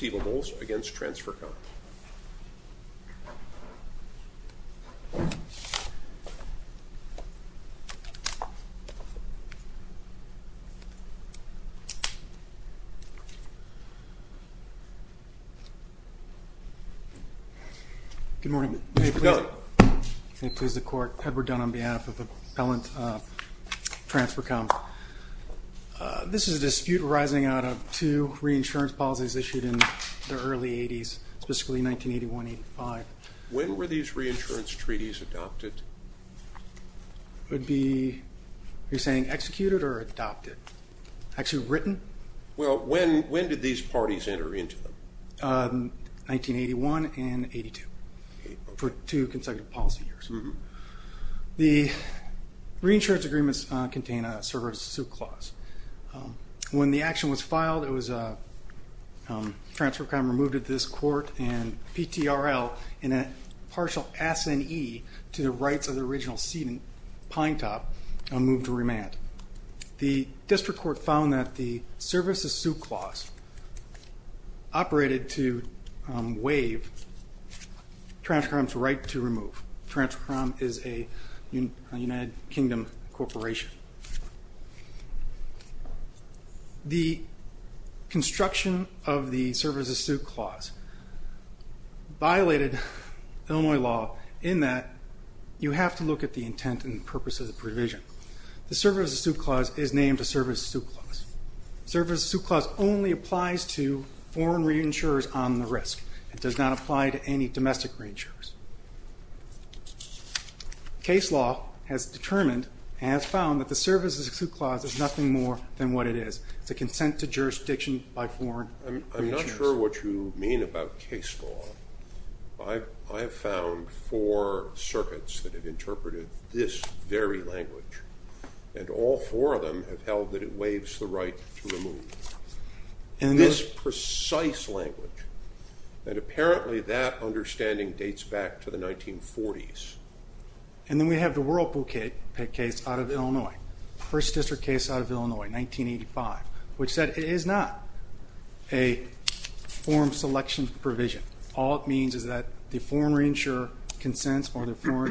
Good morning. May it please the court, Edward Dunn on behalf of Appellant Transfercom. This is a dispute arising out of two reinsurance policies issued in the early 80s, specifically 1981-85. When were these reinsurance treaties adopted? It would be, you're saying executed or adopted? Actually written? Well, when did these parties enter into them? 1981 and 82, for two consecutive policy years. The reinsurance agreements contain a service suit clause. When the action was filed, it was, Transfercom removed it to this court and PTRL, in a partial S&E to the rights of the original seat in Pine Top, moved to remand. The district court found that the service of suit clause operated to waive Transfercom's right to the United Kingdom Corporation. The construction of the service of suit clause violated Illinois law in that you have to look at the intent and purpose of the provision. The service of suit clause is named a service of suit clause. Service of suit clause only applies to foreign reinsurers on the risk. It does not apply to any domestic reinsurers. Case law has determined, has found, that the service of suit clause is nothing more than what it is. It's a consent to jurisdiction by foreign. I'm not sure what you mean about case law. I have found four circuits that have interpreted this very language and all four of them have waives the right to remove. This precise language and apparently that understanding dates back to the 1940s. And then we have the Whirlpool case out of Illinois. First district case out of Illinois, 1985, which said it is not a form selection provision. All it means is that the foreign reinsurer consents or wherever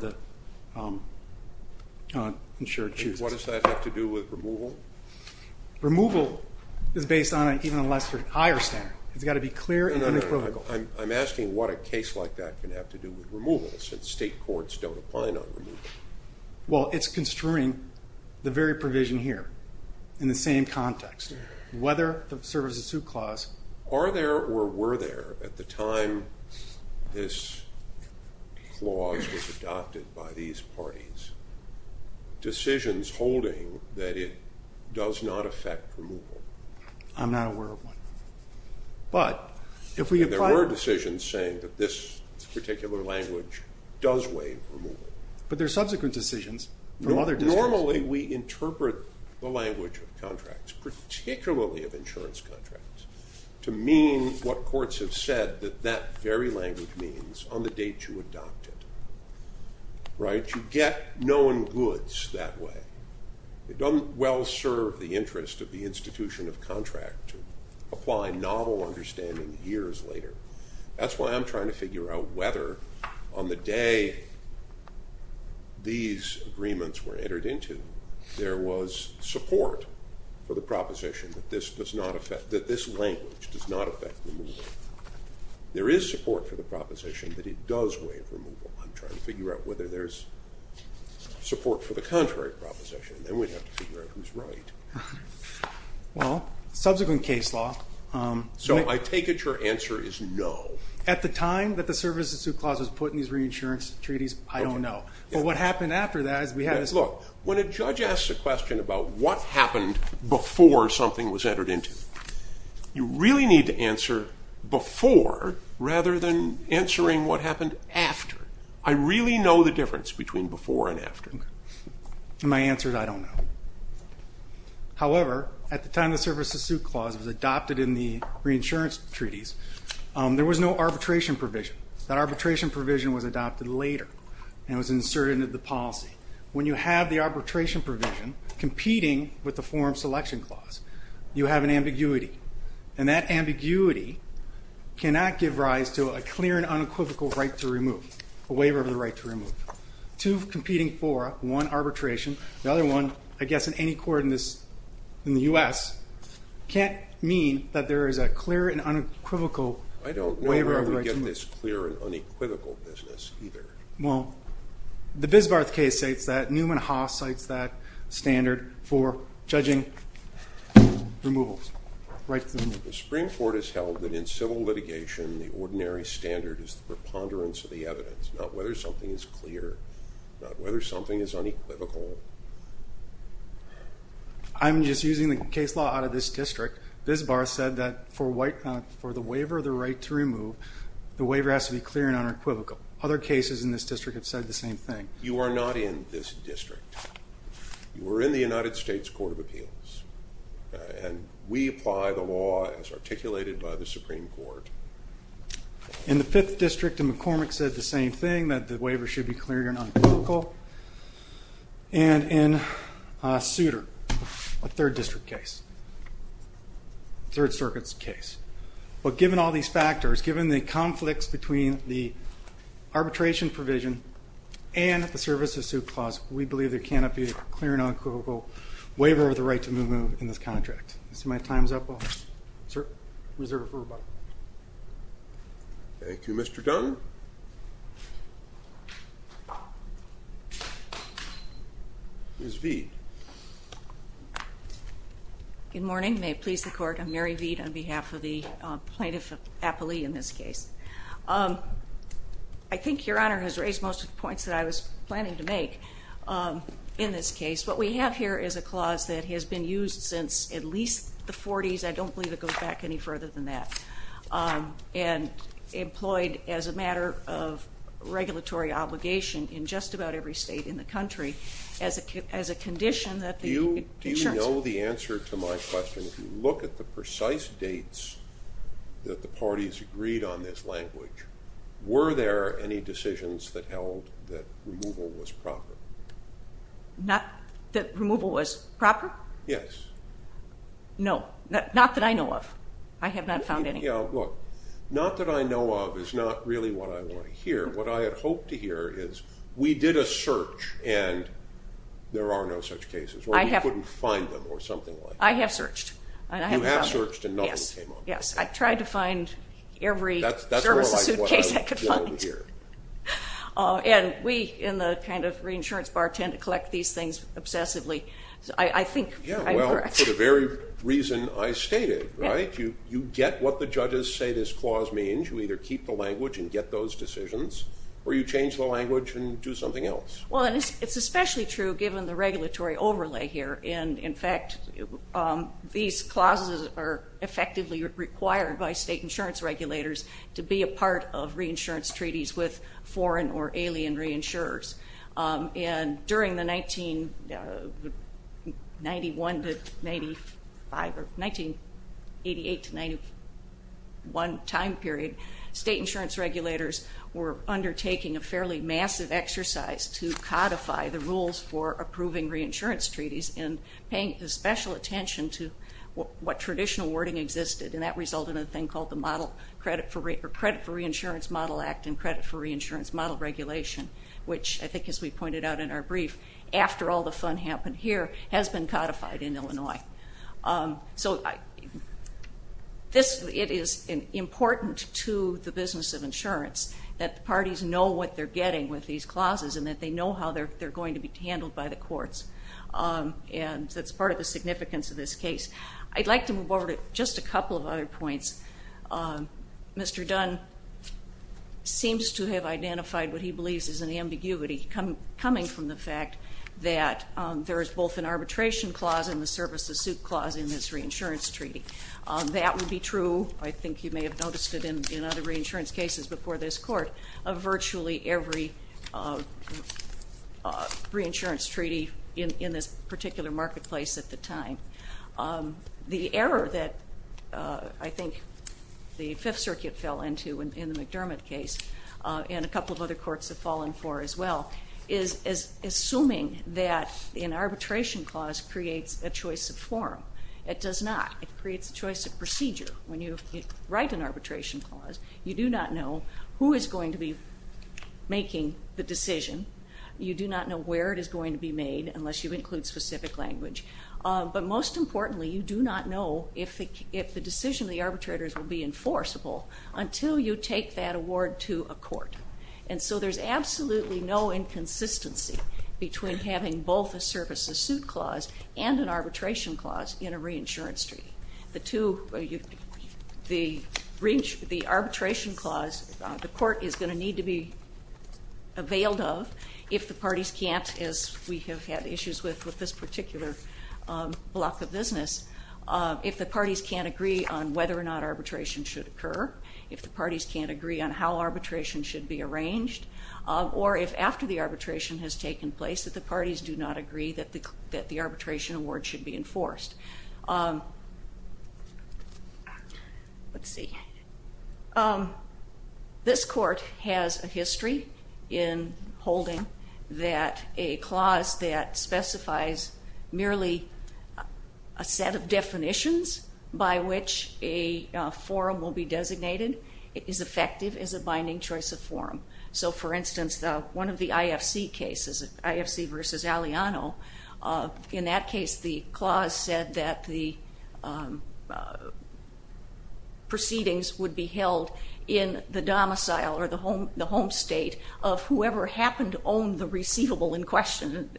the insurer chooses. What does that have to do with removal? Removal is based on an even a lesser, higher standard. It's got to be clear and unapologetical. I'm asking what a case like that can have to do with removal since state courts don't apply on removal. Well it's construing the very provision here in the same context. Whether the service of suit clause. Are there or were there at the time this clause was adopted by these parties, decisions holding that it does not affect removal? I'm not aware of one. But if we apply. There were decisions saying that this particular language does waive removal. But there are subsequent decisions from other districts. Normally we interpret the language of contracts, particularly of insurance contracts, to mean what courts have said that that very language means on the date you adopt it. Right? You get known goods that way. It doesn't well serve the interest of the institution of contract to apply novel understanding years later. That's why I'm trying to figure out whether on the day these agreements were entered into, there was support for the proposition that this does not affect, that this language does not affect removal. There is support for the proposition that it does waive removal. I'm trying to figure out whether there's support for the contrary proposition, and then we'd have to figure out who's right. Well, subsequent case law. So I take it your answer is no. At the time that the service of suit clause was put in these reinsurance treaties, I don't know. But what happened after that is we had. Look, when a judge asks a question about what happened before something was entered into, you really need to answer before rather than answering what happened after. I really know the difference between before and after. My answer is I don't know. However, at the time the service of suit clause was adopted in the reinsurance treaties, there was no arbitration provision. That arbitration provision was adopted later and was inserted into the policy. When you have the arbitration provision competing with the form selection clause, you have an ambiguity. And that ambiguity cannot give rise to a clear and unequivocal right to remove, a waiver of the right to remove. Two competing fora, one arbitration, the other one, I guess, in any court in this, in the U.S., can't mean that there is a clear and unequivocal waiver of the right to remove. I don't know where we get this clear and unequivocal business either. Well, the Bismarck case states that. Newman Haas cites that standard for judging removals, right to remove. The Supreme Court has held that in civil litigation, the ordinary standard is the preponderance of the evidence, not whether something is clear, not whether something is unequivocal. I'm just using the case law out of this district. Bismarck said that for the waiver of the right to remove, the waiver has to be clear and unequivocal. Other cases in this district have said the same thing. You are not in this district. You are in the United States Court of Appeals, and we apply the law as articulated by the Supreme Court. In the Fifth District, McCormick said the same thing, that the waiver should be clear and unequivocal, and in Souter, a Third District case, Third Circuit's case. But given all these factors, given the conflicts between the arbitration provision and the service of suit clause, we believe there cannot be a clear and unequivocal waiver of the right to remove in this contract. I see my time's up. I'll reserve it for rebuttal. Thank you, Mr. Dunn. Ms. Veid. Good morning. May it please the Court, I'm Mary Veid on behalf of the plaintiff of Appalee in this case. I think Your Honor has raised most of the points that I was planning to make in this case. What we have here is a clause that has been used since at least the 40s, I don't believe it goes back any further than that, and employed as a matter of regulatory obligation in just about every state in the country as a condition that the insurance... Do you know the answer to my question? If you look at the precise dates that the removal was proper. Not that removal was proper? Yes. No. Not that I know of. I have not found any. Look, not that I know of is not really what I want to hear. What I had hoped to hear is we did a search and there are no such cases. We couldn't find them or something like that. I have searched. You have searched and nothing came up. Yes. I tried to find every service of suit case I could find. We in the reinsurance bar tend to collect these things obsessively. I think... For the very reason I stated. You get what the judges say this clause means. You either keep the language and get those decisions or you change the language and do something else. It's especially true given the regulatory overlay here. In fact, these clauses are effectively required by state insurance regulators to be a part of reinsurance treaties with foreign or alien reinsurers. During the 1988 to 1991 time period, state insurance regulators were undertaking a fairly massive exercise to codify the rules for approving reinsurance treaties and paying special attention to what traditional wording existed. That resulted in a thing called the Credit for Reinsurance Model Act and Credit for Reinsurance Model Regulation, which I think as we pointed out in our brief, after all the fun happened here, has been codified in Illinois. It is important to the business of insurance that the parties know what they're getting with these clauses and that they know how they're going to be handled by the courts. That's part of the significance of this case. I'd like to move over to just a couple of other points. Mr. Dunn seems to have identified what he believes is an ambiguity coming from the fact that there is both an arbitration clause and the service of suit clause in this reinsurance treaty. That would be true, I think you may have noticed it in other reinsurance cases before this court, of virtually every reinsurance treaty in this particular marketplace at the time. The error that I think the Fifth Circuit fell into in the McDermott case and a couple of other courts have fallen for as well is assuming that an arbitration clause creates a choice of form. It does not. It creates a choice of procedure. When you write an arbitration clause, you do not know who is going to be making the decision. You do not know where it is going to be made unless you include specific language. But most importantly, you do not know if the decision of the arbitrators will be enforceable until you take that award to a court. And so there's absolutely no inconsistency between having both a service of suit clause and an arbitration clause in a reinsurance treaty. The arbitration clause, the court is going to need to be availed of if the parties can't, as we have had issues with with this particular block of business, if the parties can't agree on whether or not arbitration should occur, if the parties can't agree on how arbitration should be arranged, or if after the arbitration has taken place that the parties do not agree that the arbitration award should be enforced. Let's see. This court has a history in holding that a clause that specifies merely a set of definitions by which a forum will be designated is effective as a binding choice of forum. So for instance, one of the IFC cases, IFC versus Aliano, in that case the clause said that the proceedings would be held in the domicile or the home state of whoever happened to own the receivable in question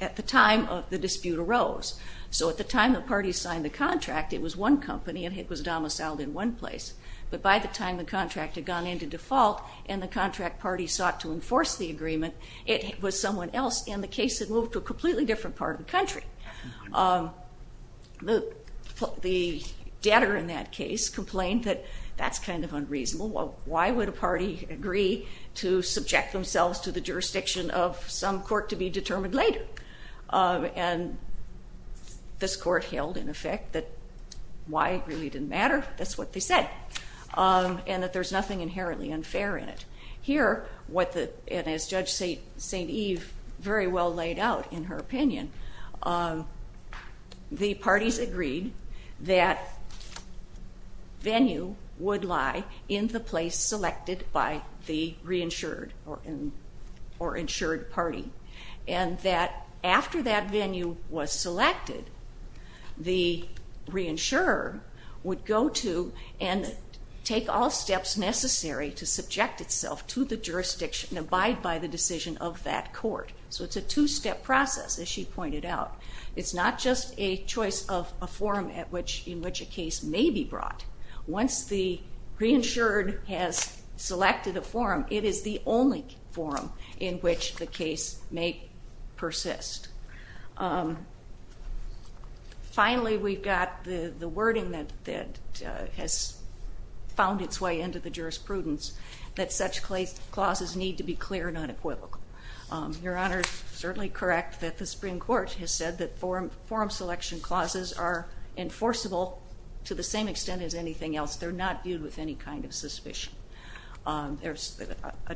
at the time of the dispute arose. So at the time the parties signed the contract, it was one company and it was domiciled in one place. But by the time the contract had gone into default and the contract party sought to enforce the agreement, it was someone else and the case had moved to a completely different part of the country. The debtor in that case complained that that's kind of unreasonable. Why would a party agree to subject themselves to the jurisdiction of some court to be determined later? And this court held in effect that why it really didn't matter. That's what they said. And that there's nothing inherently unfair in it. Here, and as Judge St. Eve very well laid out in her opinion, the parties agreed that venue would lie in the place selected by the reinsured or insured party and that after that venue was selected, the reinsurer would go to and take all steps necessary to subject itself to the jurisdiction and abide by the decision of that court. So it's a two-step process, as she pointed out. It's not just a choice of a forum in which a case may be brought. Once the reinsured has selected a forum, it is the only forum in which the case may persist. Finally, we've got the wording that has found its way into the jurisprudence that such clauses need to be clear and unequivocal. Your Honor is certainly correct that the Supreme Court has said that forum selection clauses are enforceable to the same extent as anything else. There's a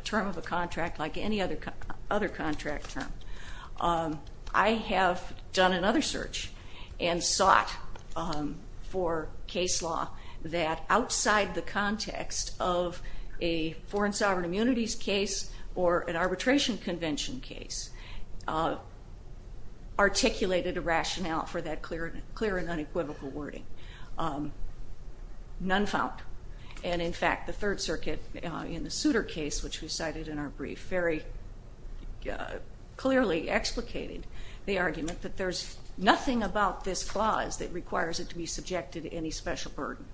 term of a contract like any other contract term. I have done another search and sought for case law that outside the context of a foreign sovereign immunities case or an arbitration convention case articulated a rationale for that clear and unequivocal wording. None found. And in fact, the Third Circuit in the Souter case, which we cited in our brief, very clearly explicated the argument that there's nothing about this clause that requires it to be subjected to any special burden.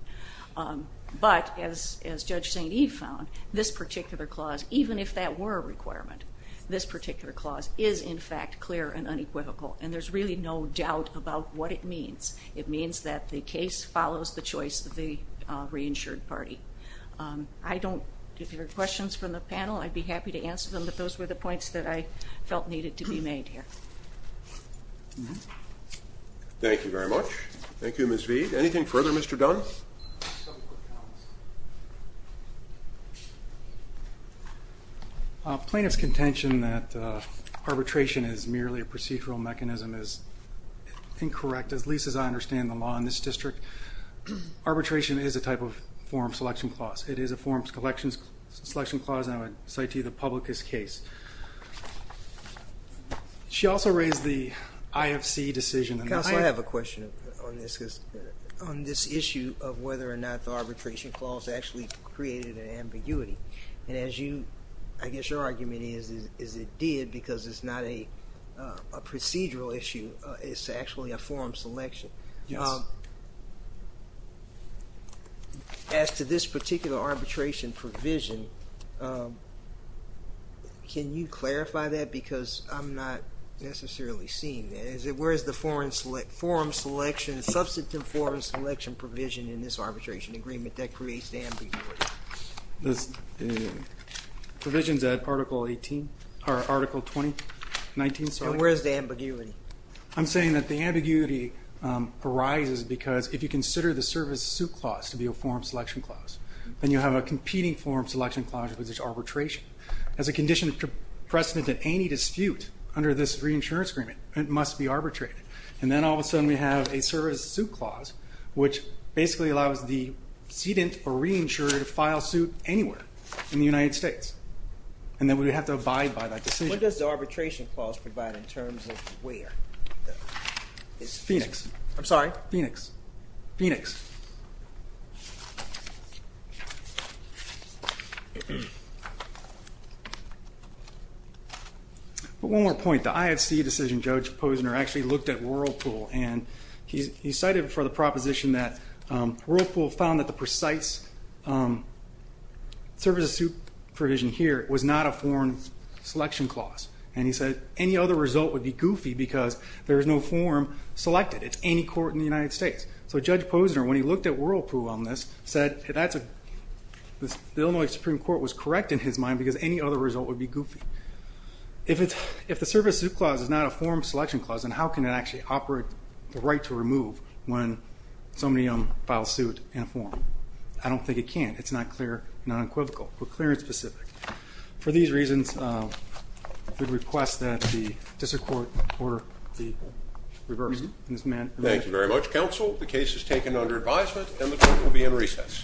But as Judge St. Eve found, this particular clause, even if that were a requirement, this particular clause is in fact clear and unequivocal, and there's really no doubt about what it means. It means that the case follows the choice of the reinsured party. If there are questions from the panel, I'd be happy to answer them, but those were the points that I felt needed to be made here. Thank you very much. Thank you, Ms. Veid. Anything further, Mr. Dunn? Plaintiff's contention that arbitration is merely a procedural mechanism is incorrect, at least as I understand the law in this district. Arbitration is a type of forum selection clause. It is a forum selection clause, and I would cite to you the publicus case. She also raised the IFC decision. Counsel, I have a question on this issue of whether or not the arbitration clause actually created an ambiguity. I guess your argument is it did because it's not a procedural issue. It's actually a forum selection. Yes. As to this particular arbitration provision, can you clarify that? Because I'm not necessarily seeing that. Where is the forum selection, forum selection provision in this arbitration agreement that creates the ambiguity? The provision's at Article 18, or Article 20, 19, sorry. And where is the ambiguity? I'm saying that the ambiguity arises because if you consider the service suit clause to be a forum selection clause, then you have a competing forum selection clause with arbitration. As a condition of precedent that any dispute under this reinsurance agreement must be arbitrated. And then all of a sudden we have a service suit clause, which basically allows the sedent or reinsurer to file suit anywhere in the United States. And then we would have to abide by that decision. What does the arbitration clause provide in terms of where? I'm sorry? Phoenix. Phoenix. But one more point. The IFC decision, Judge Posner actually looked at Whirlpool. And he cited for the proposition that Whirlpool found that the precise service of suit provision here was not a forum selection clause. And he said any other result would be goofy because there is no forum selected. It's any court in the United States. So Judge Posner, when he looked at Whirlpool on this, said the Illinois Supreme Court was correct in his mind because any other result would be goofy. If the service suit clause is not a forum selection clause, then how can it actually operate the right to remove when somebody files suit in a forum? I don't think it can. It's not clear, not equivocal, but clear and specific. For these reasons, we request that the district court order the reverse. Thank you very much, counsel. The case is taken under advisement and the court will be in recess.